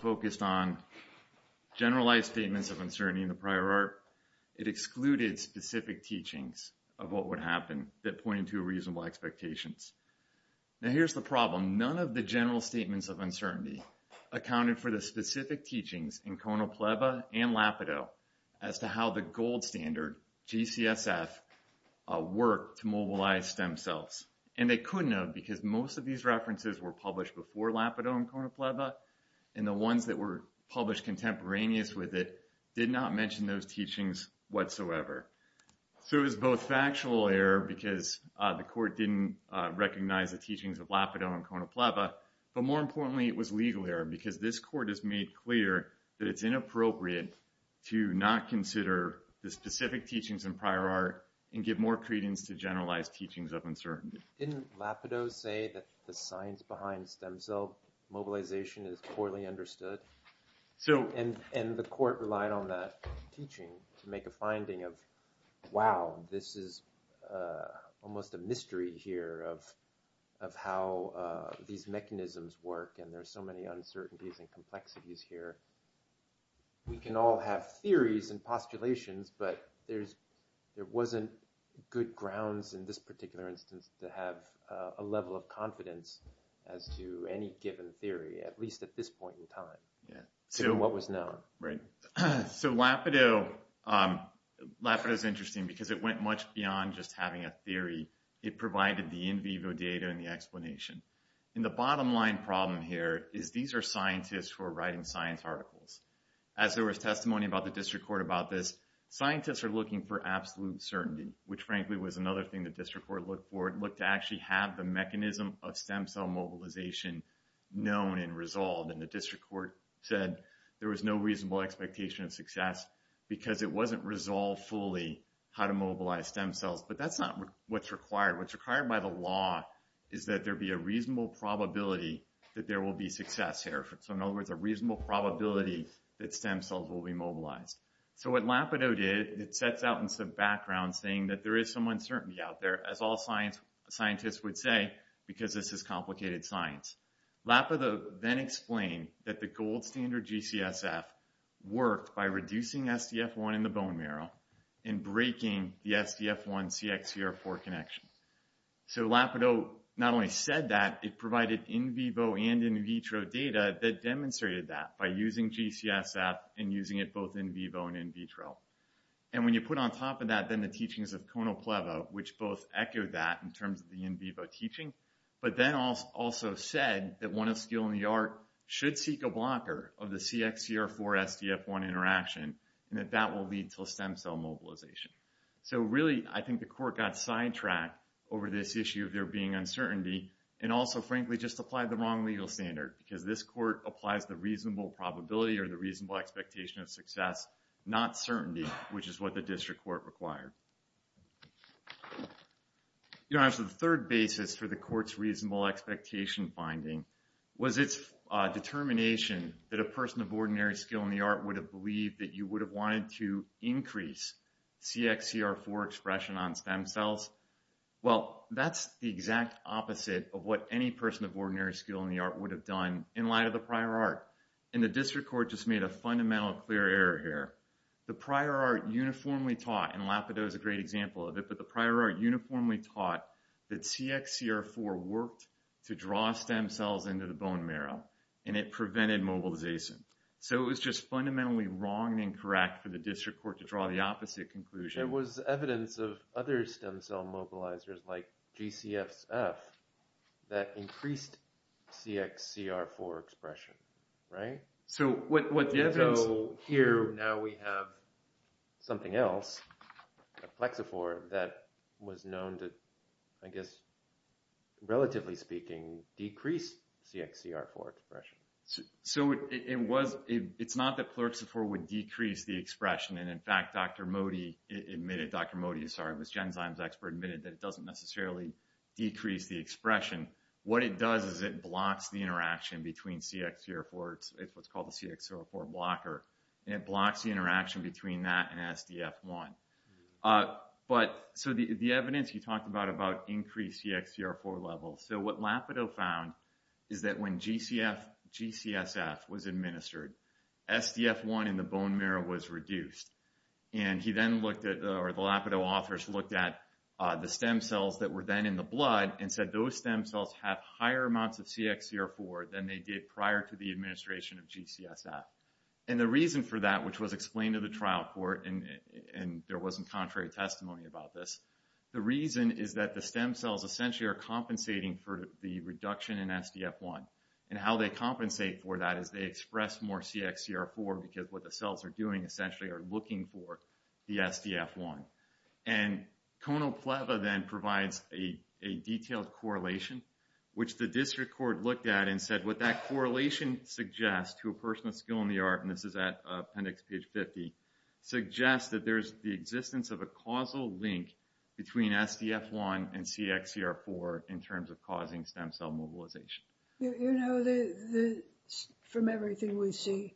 focused on generalized statements of uncertainty in the prior art. It excluded specific teachings of what would happen that pointed to reasonable expectations. Now here's the problem. None of the general statements of uncertainty accounted for the specific teachings in Konopleba and Lapido as to how the gold standard, GCSF, worked to mobilize stem cells. And they couldn't have because most of these references were published before Lapido and Konopleba, and the ones that were published contemporaneous with it did not mention those teachings whatsoever. So it was both factual error because the court didn't recognize the teachings of Lapido and Konopleba, but more importantly it was legal error because this court has made clear that it's inappropriate to not consider the specific teachings in prior art and give more credence to generalized teachings of uncertainty. Didn't Lapido say that the science behind stem cell mobilization is poorly understood? And the court relied on that teaching to make a finding of, wow, this is almost a mystery here of how these mechanisms work and there's so many uncertainties and complexities here. We can all have theories and postulations, but there wasn't good grounds in this particular instance to have a level of confidence as to any given theory, at least at this point in time, to what was known. Right. So Lapido is interesting because it went much beyond just having a theory. It provided the in vivo data and the explanation. And the bottom line problem here is these are scientists who are writing science articles. As there was testimony about the district court about this, scientists are looking for absolute certainty, which frankly was another thing the district court looked for. It looked to actually have the mechanism of stem cell mobilization known and resolved. And the district court said there was no reasonable expectation of success because it wasn't resolved fully how to mobilize stem cells. But that's not what's required. What's reasonable probability that there will be success here. So in other words, a reasonable probability that stem cells will be mobilized. So what Lapido did, it sets out in some background saying that there is some uncertainty out there, as all scientists would say, because this is complicated science. Lapido then explained that the gold standard GCSF worked by reducing SDF1 in the in vivo and in vitro data that demonstrated that by using GCSF and using it both in vivo and in vitro. And when you put on top of that, then the teachings of Konopleva, which both echoed that in terms of the in vivo teaching, but then also said that one of skill in the art should seek a blocker of the CXCR4-SDF1 interaction and that that will lead to a stem cell mobilization. So really, I think the court got sidetracked over this issue of there being uncertainty. And also, frankly, just applied the wrong legal standard because this court applies the reasonable probability or the reasonable expectation of success, not certainty, which is what the district court required. The third basis for the court's reasonable expectation finding was its determination that a person of ordinary skill in the art would have believed that you would have wanted to on stem cells. Well, that's the exact opposite of what any person of ordinary skill in the art would have done in light of the prior art. And the district court just made a fundamental clear error here. The prior art uniformly taught, and Lapido is a great example of it, but the prior art uniformly taught that CXCR4 worked to draw stem cells into the bone marrow and it prevented mobilization. So it was just fundamentally wrong and incorrect for the district court to draw the conclusion. There was evidence of other stem cell mobilizers like GCFSF that increased CXCR4 expression, right? So here now we have something else, Plexifor, that was known to, I guess, relatively speaking, decrease CXCR4 expression. So it's not that Plexifor would decrease the expression. Dr. Mody, I'm sorry, was Genzyme's expert, admitted that it doesn't necessarily decrease the expression. What it does is it blocks the interaction between CXCR4, it's what's called the CXCR4 blocker, and it blocks the interaction between that and SDF1. But so the evidence you talked about, about increased CXCR4 levels. So what Lapido found is that when GCFSF was administered, SDF1 in the bone marrow was reduced. And he then looked at, or the Lapido authors looked at the stem cells that were then in the blood and said those stem cells have higher amounts of CXCR4 than they did prior to the administration of GCFSF. And the reason for that, which was explained to the trial court, and there wasn't contrary testimony about this, the reason is that the stem cells essentially are compensating for the reduction in SDF1. And how they compensate for that is they express more CXCR4 because what the cells are doing essentially are looking for the SDF1. And Konopleva then provides a detailed correlation, which the district court looked at and said what that correlation suggests to a person with skill in the art, and this is at appendix page 50, suggests that there's the existence of a causal link between SDF1 and CXCR4 in terms of causing stem cell mobilization. You know, from everything we see,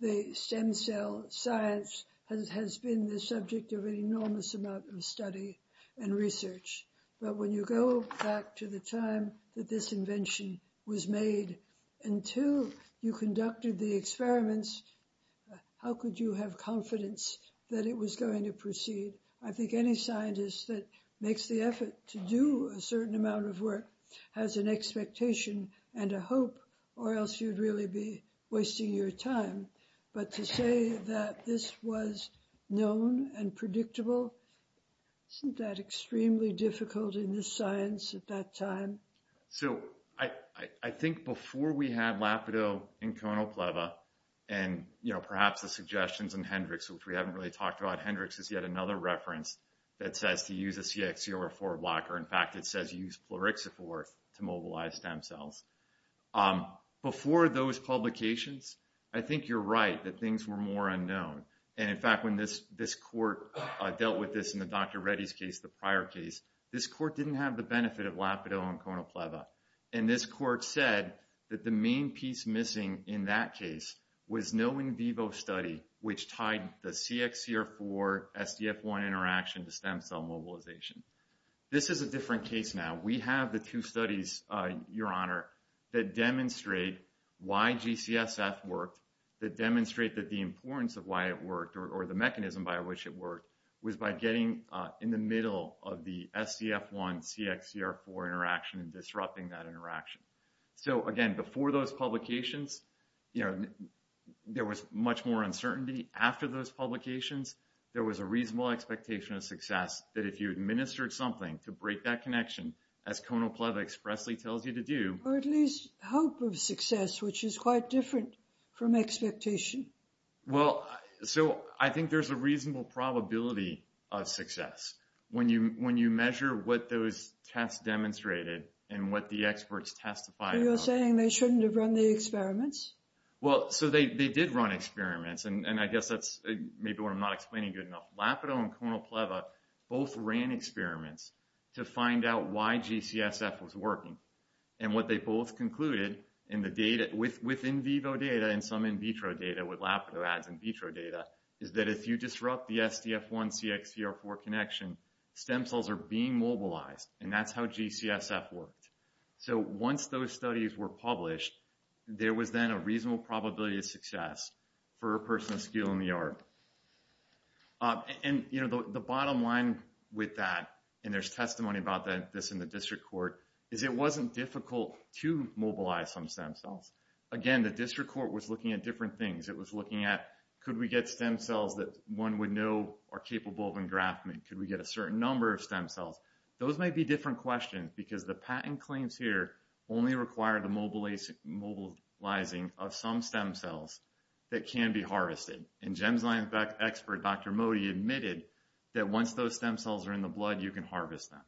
the stem cell science has been the subject of an enormous amount of study and research. But when you go back to the time that this invention was made, until you conducted the experiments, how could you have confidence that it was going to proceed? I think any scientist that makes the effort to do a certain amount of work has an expectation and a hope, or else you'd really be wasting your time. But to say that this was known and predictable, isn't that extremely difficult in this science at that time? So I think before we had LAPIDO and Konopleva, and you know, perhaps the suggestions in Hendrix, which we haven't really talked about, Hendrix is yet another reference that says to use a CXCR4 blocker. In fact, it says use Plerixiforth to mobilize stem cells. Before those publications, I think you're right that things were more unknown. And in fact, when this court dealt with this in the Dr. Reddy's case, the prior case, this court didn't have the benefit of LAPIDO and Konopleva. And this court said that the main piece missing in that case was no in vivo study, which tied the CXCR4-SDF1 interaction to stem cell mobilization. This is a different case now. We have the two studies, Your Honor, that demonstrate why GCSF worked, that demonstrate that the importance of why it worked or the mechanism by which it worked was by getting in the middle of the SDF1-CXCR4 interaction and disrupting that interaction. So again, before those publications, you know, there was much more uncertainty. After those publications, there was a reasonable expectation of success that if you administered something to break that connection, as Konopleva expressly tells you to do... Or at least hope of success, which is quite different from expectation. Well, so I think there's a reasonable probability of success. When you measure what those tests demonstrated and what the experts testified... You're saying they shouldn't have run the experiments? Well, so they did run experiments. And I guess that's maybe what I'm not explaining good enough. LAPIDO and Konopleva both ran experiments to find out why GCSF was working. And what they both concluded in the data with in vivo data and some in vitro data with LAPIDO ads in vitro data is that if you disrupt the SDF1-CXCR4 connection, stem cells are being mobilized. And that's how GCSF worked. So once those studies were published, there was then a reasonable probability of success for a person of skill in the art. And, you know, the bottom line with that, and there's testimony about this in the district court, is it wasn't difficult to mobilize some stem cells. Again, the district court was looking at different things. It was looking at, could we get stem cells that one would know are capable of engraftment? Could we get a certain number of stem cells? Those might be different questions because the patent claims here only require the mobilizing of some stem cells that can be harvested. And Gemsline expert, Dr. Modi, admitted that once those stem cells are in the blood, you can harvest them.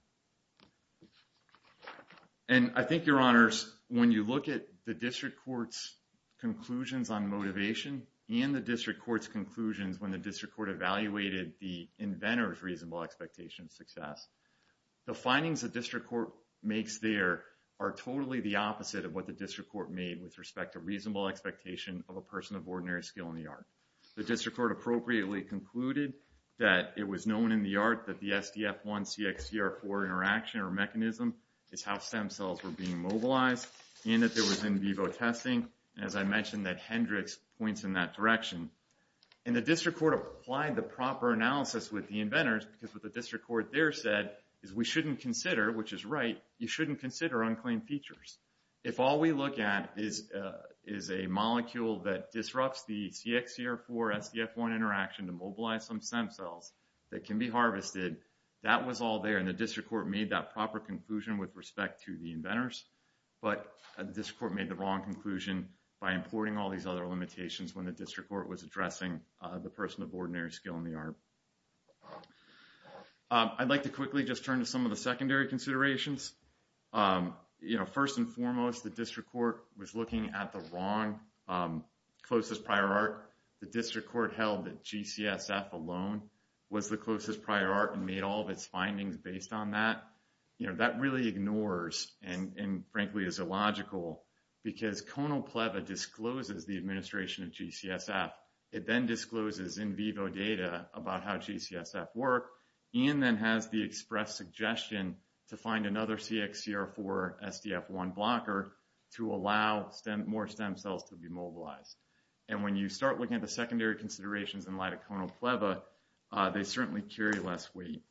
And I think, your honors, when you look at the district court's conclusions on motivation and the district court's conclusions when the district court evaluated the inventor's reasonable expectation of success, the findings the district court makes there are totally the opposite of what the district court made with respect to reasonable expectation of a person of ordinary skill in the that it was known in the art that the SDF1-CXCR4 interaction or mechanism is how stem cells were being mobilized, and that there was in vivo testing. As I mentioned, that Hendrix points in that direction. And the district court applied the proper analysis with the inventors because what the district court there said is we shouldn't consider, which is right, you shouldn't consider unclaimed features. If all we look at is a molecule that disrupts the CXCR4-SDF1 interaction to mobilize some stem cells that can be harvested, that was all there. And the district court made that proper conclusion with respect to the inventors, but the district court made the wrong conclusion by importing all these other limitations when the district court was addressing the person of ordinary skill in the art. I'd like to quickly just turn to some of the secondary considerations. First and foremost, the district court was looking at the wrong, closest prior art. The district court held that GCSF alone was the closest prior art and made all of its findings based on that. You know, that really ignores and frankly is illogical because ConalPLEVA discloses the administration of GCSF. It then discloses in vivo data about how GCSF work and then has the express suggestion to find another CXCR4-SDF1 blocker to allow more stem cells to be mobilized. And when you start looking at the secondary considerations in light of ConalPLEVA, they certainly carry less weight.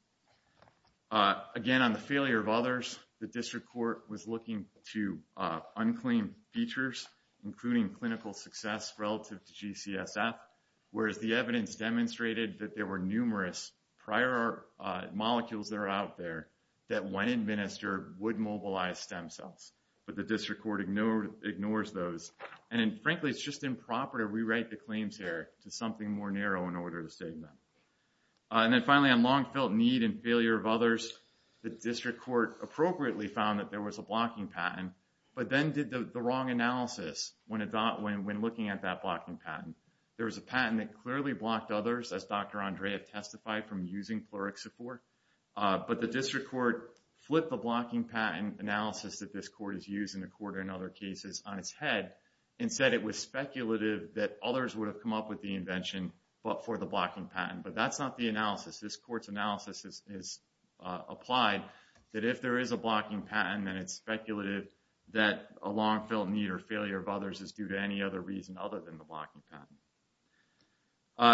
Again, on the failure of others, the district court was looking to unclaim features, including clinical success relative to GCSF, whereas the evidence demonstrated that there were numerous prior molecules that are out there that when administered would mobilize stem cells, but the district court ignores those. And frankly, it's just improper to rewrite the claims here to something more narrow in order to state them. And then finally, on long-felt need and failure of others, the district court appropriately found that there was a blocking patent, but then did the wrong analysis when looking at that blocking patent. There was a patent that clearly blocked others, as Dr. Andreev testified, from using CXCR4, but the district court flipped the blocking patent analysis that this court is using, according to other cases, on its head and said it was speculative that others would have come up with the invention but for the blocking patent. But that's not the analysis. This court's analysis is applied that if there is a blocking patent, then it's speculative that a long-felt need or failure of others is due to any other reason other than the blocking patent.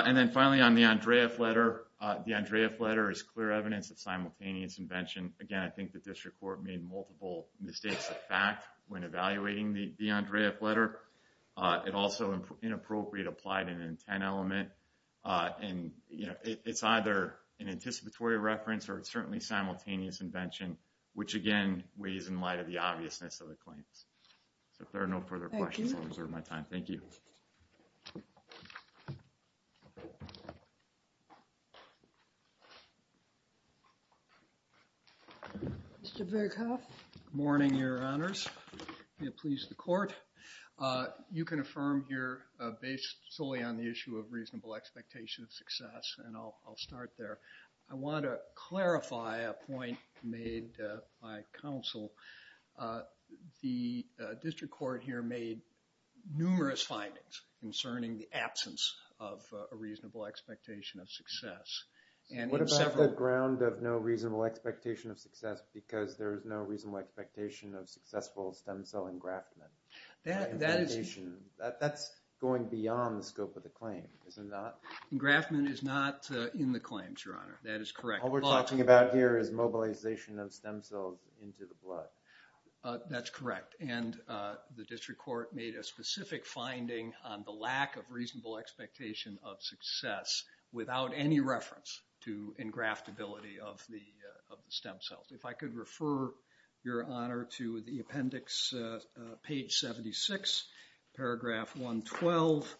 And then finally, on the Andreev letter, the Andreev letter is clear evidence of simultaneous invention. Again, I think the district court made multiple mistakes of fact when evaluating the Andreev letter. It also inappropriate applied an intent element. And it's either an anticipatory reference or it's certainly simultaneous invention, which again, weighs in light of the obviousness of the claims. So if there are no further questions, I'll reserve my time. Thank you. Mr. Berghoff. Good morning, Your Honors. May it please the court. You can affirm here, based solely on the issue of reasonable expectation of success, and I'll start there. I want to clarify a point made by counsel. The district court here made numerous findings concerning the absence of a reasonable expectation of success. What about the ground of no reasonable expectation of success because there is no reasonable expectation of successful stem cell engraftment? That's going beyond the scope of the claim, is it not? Engraftment is not in the claims, Your Honor. That is correct. All we're talking about here is mobilization of stem cells into the blood. That's correct. And the district court made a specific finding on the lack of reasonable expectation of success without any reference to engraftability of the stem cells. If I could refer, Your Honor, to the appendix, page 76, paragraph 112.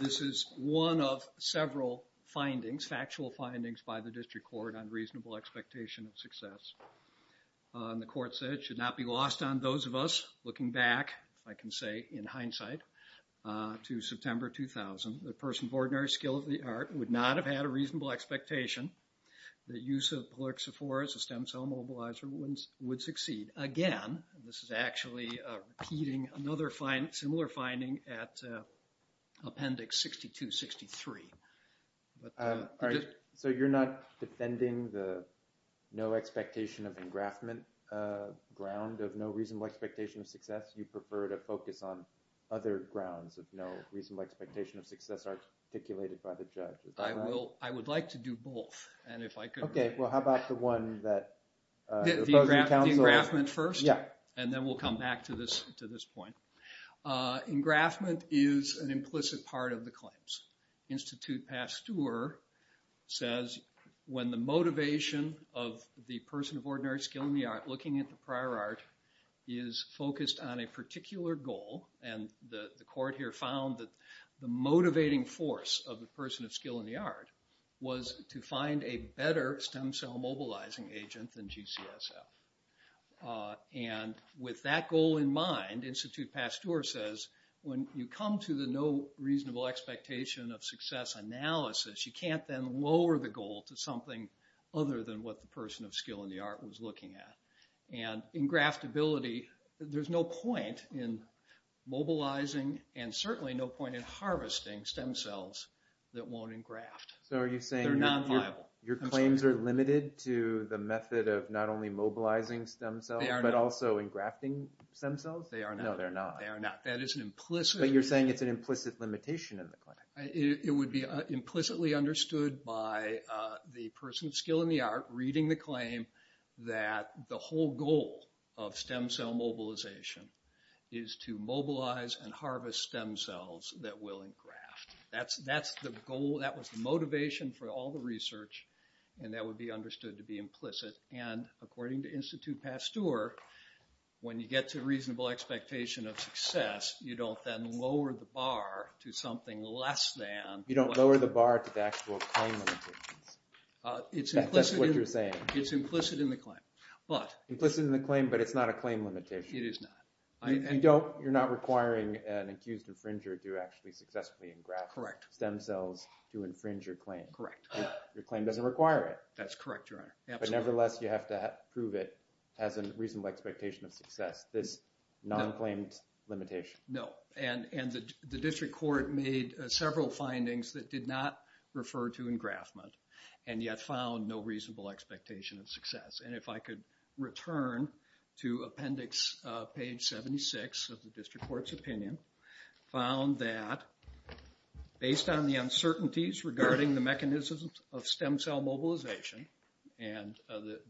This is one of several findings, factual findings by the district court on reasonable expectation of success. And the court said it should not be lost on those of us looking back, if I can say in hindsight, to September 2000. The person of ordinary skill of the art would not have had a reasonable expectation that use of Polyoxephora as a stem cell mobilizer would succeed. Again, this is actually repeating another similar finding at appendix 6263. So you're not defending the no expectation of engraftment ground of no reasonable expectation of success? You prefer to focus on other grounds of no reasonable expectation of success articulated by the judge? I would like to do both. And if I could... Okay, well how about the one that... Engraftment first, and then we'll come back to this point. Engraftment is an implicit part of the claims. Institute Pasteur says when the motivation of the person of ordinary skill in the art looking at the prior art is focused on a particular goal, and the court here found that the motivating force of the person of skill in the art was to find a better stem cell mobilizing agent than GCSF. And with that goal in mind, Institute Pasteur says when you come to the no reasonable expectation of success analysis, you can't then lower the goal to something other than what the person of skill in the art was looking at. And engraftability, there's no point in mobilizing and certainly no point in harvesting stem cells that won't engraft. They're not viable. So are you saying your claims are limited to the method of not only mobilizing stem cells, but also engrafting stem cells? No, they're not. They are not. That is an implicit... But you're saying it's an implicit limitation in the claim. It would be implicitly understood by the person of skill in the art reading the claim that the whole goal of stem cell mobilization is to mobilize and harvest stem cells that will engraft. That's the goal. That was the motivation for all the research, and that would be understood to be implicit. And according to Institute Pasteur, when you get to a reasonable expectation of success, you don't then lower the bar to something less than... You don't lower the bar to the actual claim limitations. That's what you're saying. It's implicit in the claim. Implicit in the claim, but it's not a claim limitation. It is not. You're not requiring an accused infringer to actually successfully engraft stem cells to infringe your claim. Correct. Your claim doesn't require it. That's correct, Your Honor. But nevertheless, you have to prove it has a reasonable expectation of success, this non-claimed limitation. No. And the district court made several findings that did not refer to engraftment and yet found no reasonable expectation of success. And if I could return to appendix page 76 of the district court's opinion, found that based on the uncertainties regarding the mechanisms of stem cell mobilization, and the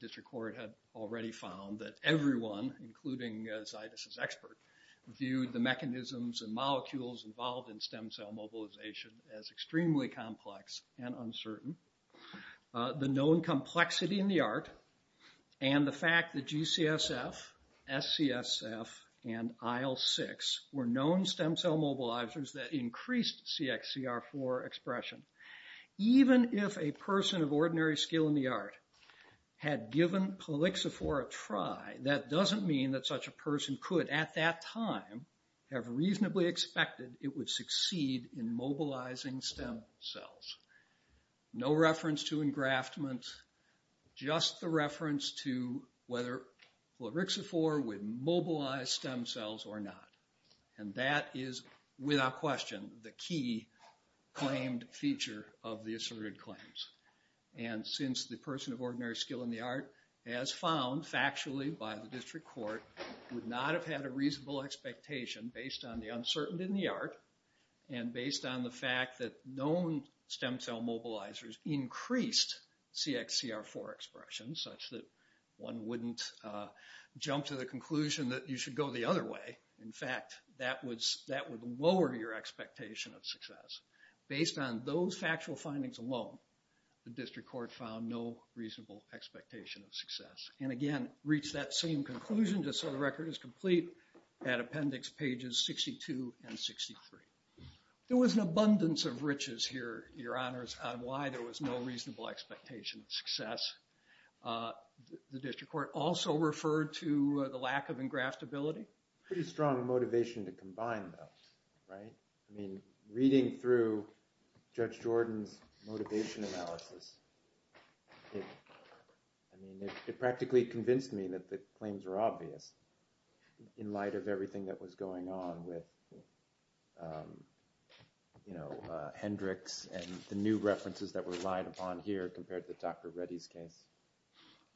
including Zaitis' expert, viewed the mechanisms and molecules involved in stem cell mobilization as extremely complex and uncertain, the known complexity in the art, and the fact that GCSF, SCSF, and IL-6 were known stem cell mobilizers that increased CXCR4 expression. Even if a person of ordinary skill in the art had given Clalixifor a try, that doesn't mean that such a person could at that time have reasonably expected it would succeed in mobilizing stem cells. No reference to engraftment, just the reference to whether Clalixifor would mobilize stem cells or not. And that is without question the key claimed feature of the asserted claims. And since the person of ordinary skill in the art, as found factually by the district court, would not have had a reasonable expectation based on the uncertainty in the art, and based on the fact that known stem cell mobilizers increased CXCR4 expression such that one wouldn't jump to the conclusion that you should go the other way. In fact, that would lower your expectation of success. Based on those factual findings alone, the district court found no reasonable expectation of success. And again, reach that same conclusion just so the record is complete at appendix pages 62 and 63. There was an abundance of riches here, your honors, on why there was no reasonable expectation of success. The district court also referred to the lack of engraftability. Pretty strong motivation to combine them, right? I mean, reading through Judge Jordan's motivation analysis, it practically convinced me that the claims were obvious in light of everything that was going on with, you know, Hendricks and the new references that relied upon here compared to Dr. Reddy's case.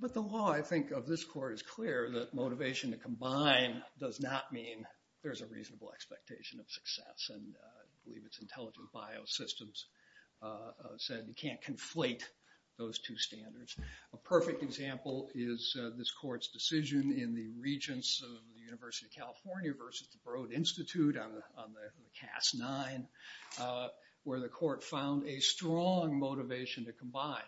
But the law, I think, of this court is clear that motivation to combine does not mean there's a reasonable expectation of success. And I believe it's intelligent biosystems said you can't conflate those two standards. A perfect example is this court's decision in the regents of the University of California versus the Broad Institute on the CAS 9, where the court found a strong motivation to combine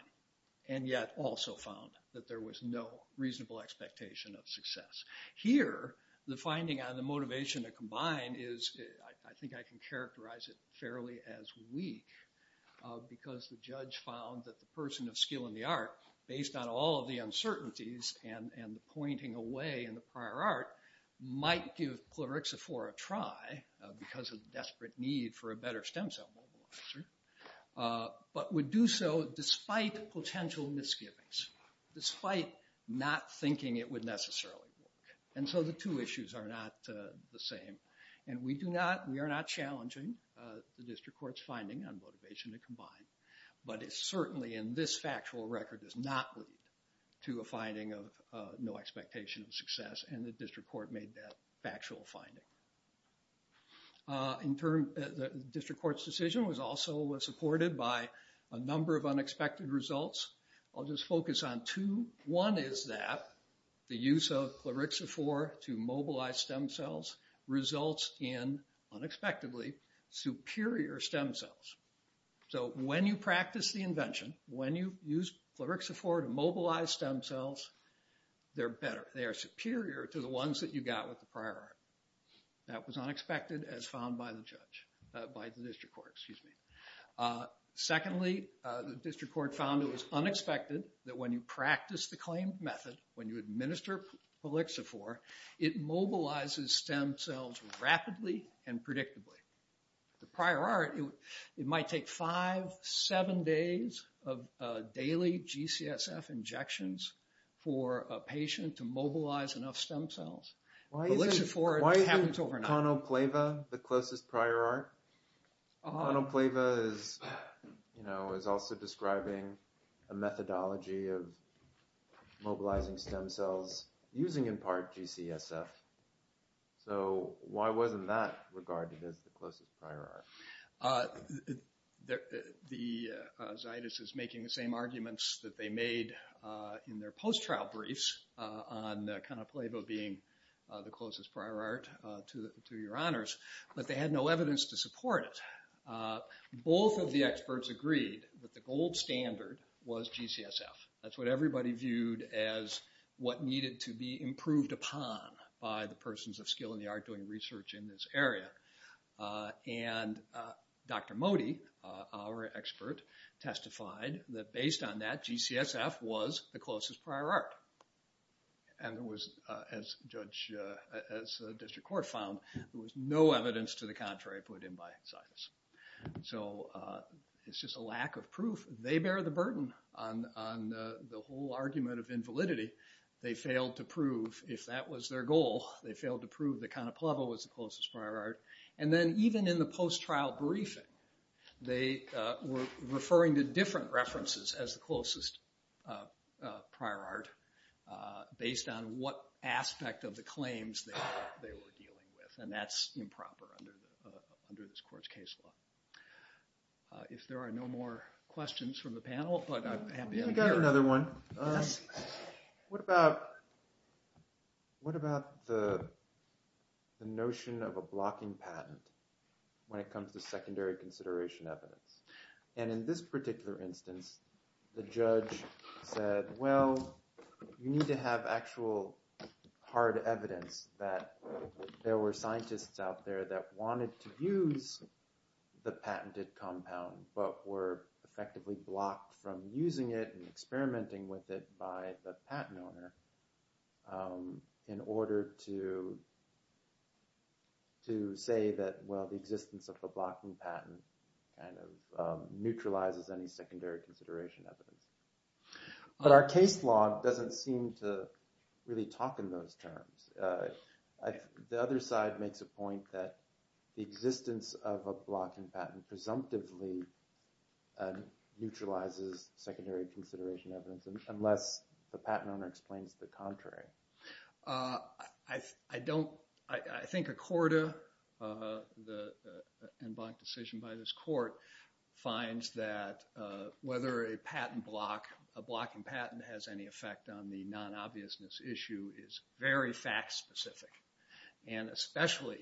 and yet also found that there was no reasonable expectation of success. Here, the finding on the motivation to combine is, I think I can characterize it fairly as weak, because the judge found that the person of skill in the art, based on all of the uncertainties and the pointing away in the prior art, might give because of the desperate need for a better stem cell mobilizer, but would do so despite potential misgivings, despite not thinking it would necessarily work. And so the two issues are not the same. And we do not, we are not challenging the district court's finding on motivation to combine. But it's certainly in this factual record does not lead to a finding of no expectation of success. And the district court made that factual finding. In turn, the district court's decision was also supported by a number of unexpected results. I'll just focus on two. One is that the use of Cloroxifor to mobilize stem cells results in, unexpectedly, superior stem cells. So when you practice the invention, when you use Cloroxifor to mobilize stem cells, they're better, they are superior to the ones that you got with the prior art. That was unexpected as found by the judge, by the district court, excuse me. Secondly, the district court found it was unexpected that when you practice the claimed method, when you administer Cloroxifor, it mobilizes stem cells rapidly and predictably. The prior art, it might take five, seven days of daily GCSF injections for a patient to mobilize enough stem cells. But Cloroxifor, it happens overnight. Why isn't Conoplaiva the closest prior art? Conoplaiva is also describing a methodology of mobilizing stem cells using, in part, GCSF. So why wasn't that regarded as the closest prior art? The, Zaitis is making the same arguments that they made in their post-trial briefs on Conoplaiva being the closest prior art to your honors, but they had no evidence to support it. Both of the experts agreed that the gold standard was GCSF. That's what everybody viewed as what needed to be improved upon by the persons of skill in the art doing research in this area. And Dr. Modi, our expert, testified that based on that, GCSF was the closest prior art. And there was, as a district court found, there was no evidence to the contrary put in by Zaitis. So it's just a lack of if that was their goal. They failed to prove that Conoplaiva was the closest prior art. And then even in the post-trial briefing, they were referring to different references as the closest prior art based on what aspect of the claims they were dealing with. And that's improper under this court's case law. If there are no more questions from the panel, but I'm happy to hear. Another one. What about the notion of a blocking patent when it comes to secondary consideration evidence? And in this particular instance, the judge said, well, you need to have actual hard evidence that there were scientists out there that wanted to use the patented compound, but were effectively blocked from using it and experimenting with it by the patent owner in order to say that, well, the existence of the blocking patent kind of neutralizes any secondary consideration evidence. But our case law doesn't seem to really talk in those terms. The other side makes a point that the existence of a blocking patent presumptively neutralizes secondary consideration evidence, unless the patent owner explains the contrary. I think Accorda, the en banc decision by this court, finds that whether a patent block, a blocking patent, has any effect on the non-obviousness issue is very fact specific. And especially,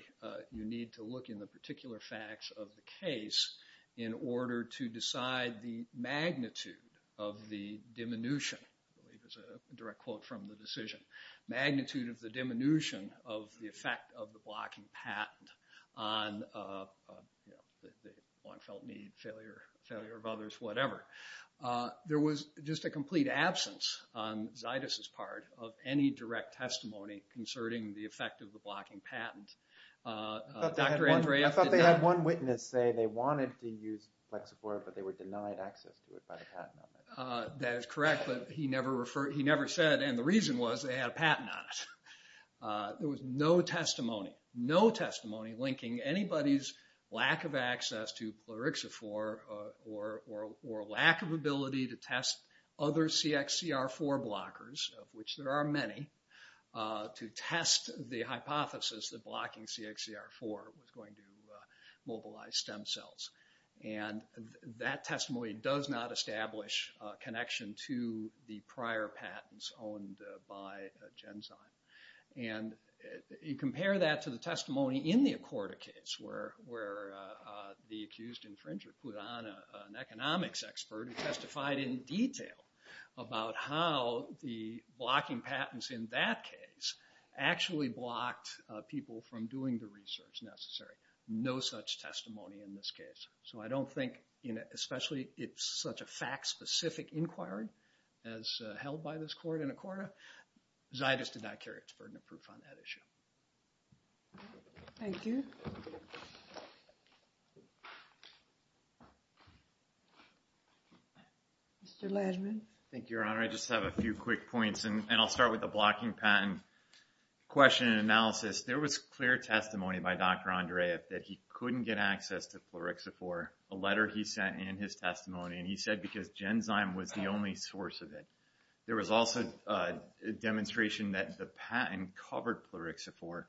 you need to look in the particular facts of the case in order to decide the magnitude of the diminution, I believe is a direct quote from the decision, magnitude of the diminution of the effect of the blocking patent on one felt need, failure of others, whatever. There was just a complete absence on Zaitis' part of any direct testimony concerning the effect of the blocking patent. I thought they had one witness say they wanted to use Plexifor, but they were denied access to it by the patent owner. That is correct, but he never referred, he never said, and the reason was they had a patent on it. There was no testimony, no testimony linking anybody's lack of access to Plexifor or lack of ability to test other CXCR4 blockers, of which there are many, to test the hypothesis that blocking CXCR4 was going to mobilize stem cells. And that testimony does not establish a connection to the prior patents owned by Genzyme. And you compare that to the testimony in the Accorda case where the accused infringer put on an economics expert who testified in detail about how the blocking patents in that case actually blocked people from doing the research necessary. No such testimony in this case. So I don't think, especially it's such a fact-specific inquiry as held by this court in the past, I don't think there's any merits burden of proof on that issue. Thank you. Mr. Langevin. Thank you, Your Honor. I just have a few quick points, and I'll start with the blocking patent question and analysis. There was clear testimony by Dr. Andreev that he couldn't get access to Plexifor, a letter he sent in his testimony, and he said because Genzyme was the only source of it. There was also a demonstration that the patent covered Plexifor.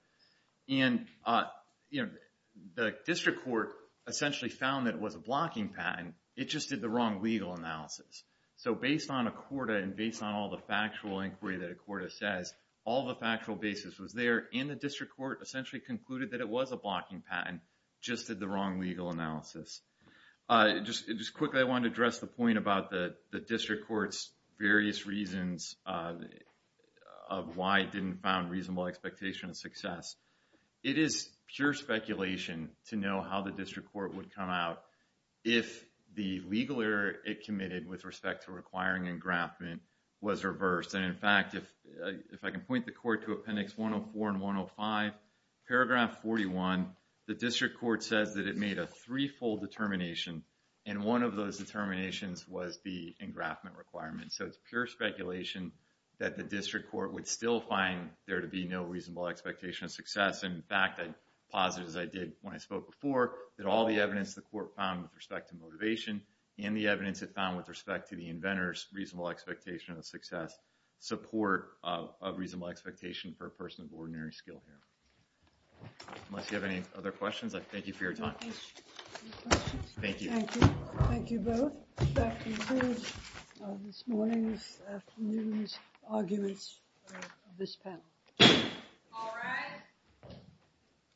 And the district court essentially found that it was a blocking patent, it just did the wrong legal analysis. So based on Accorda and based on all the factual inquiry that Accorda says, all the factual basis was there, and the district court essentially concluded that it was a blocking patent, just did the wrong legal analysis. Just quickly, I want to address the point about the district court's various reasons of why it didn't found reasonable expectation of success. It is pure speculation to know how the district court would come out if the legal error it committed with respect to requiring engraftment was reversed. And in fact, if I can point the court to Appendix 104 and 105, paragraph 41, the district court says that it made a threefold determination, and one of those determinations was the engraftment requirement. So it's pure speculation that the district court would still find there to be no reasonable expectation of success. In fact, I posit as I did when I spoke before, that all the evidence the court found with respect to motivation and the evidence it found with respect to the inventor's reasonable expectation of success support a reasonable expectation for a person of ordinary skill here. Unless you have any other questions, I thank you for your time. Thank you. Thank you both. That concludes this morning's afternoon's arguments of this panel. All rise.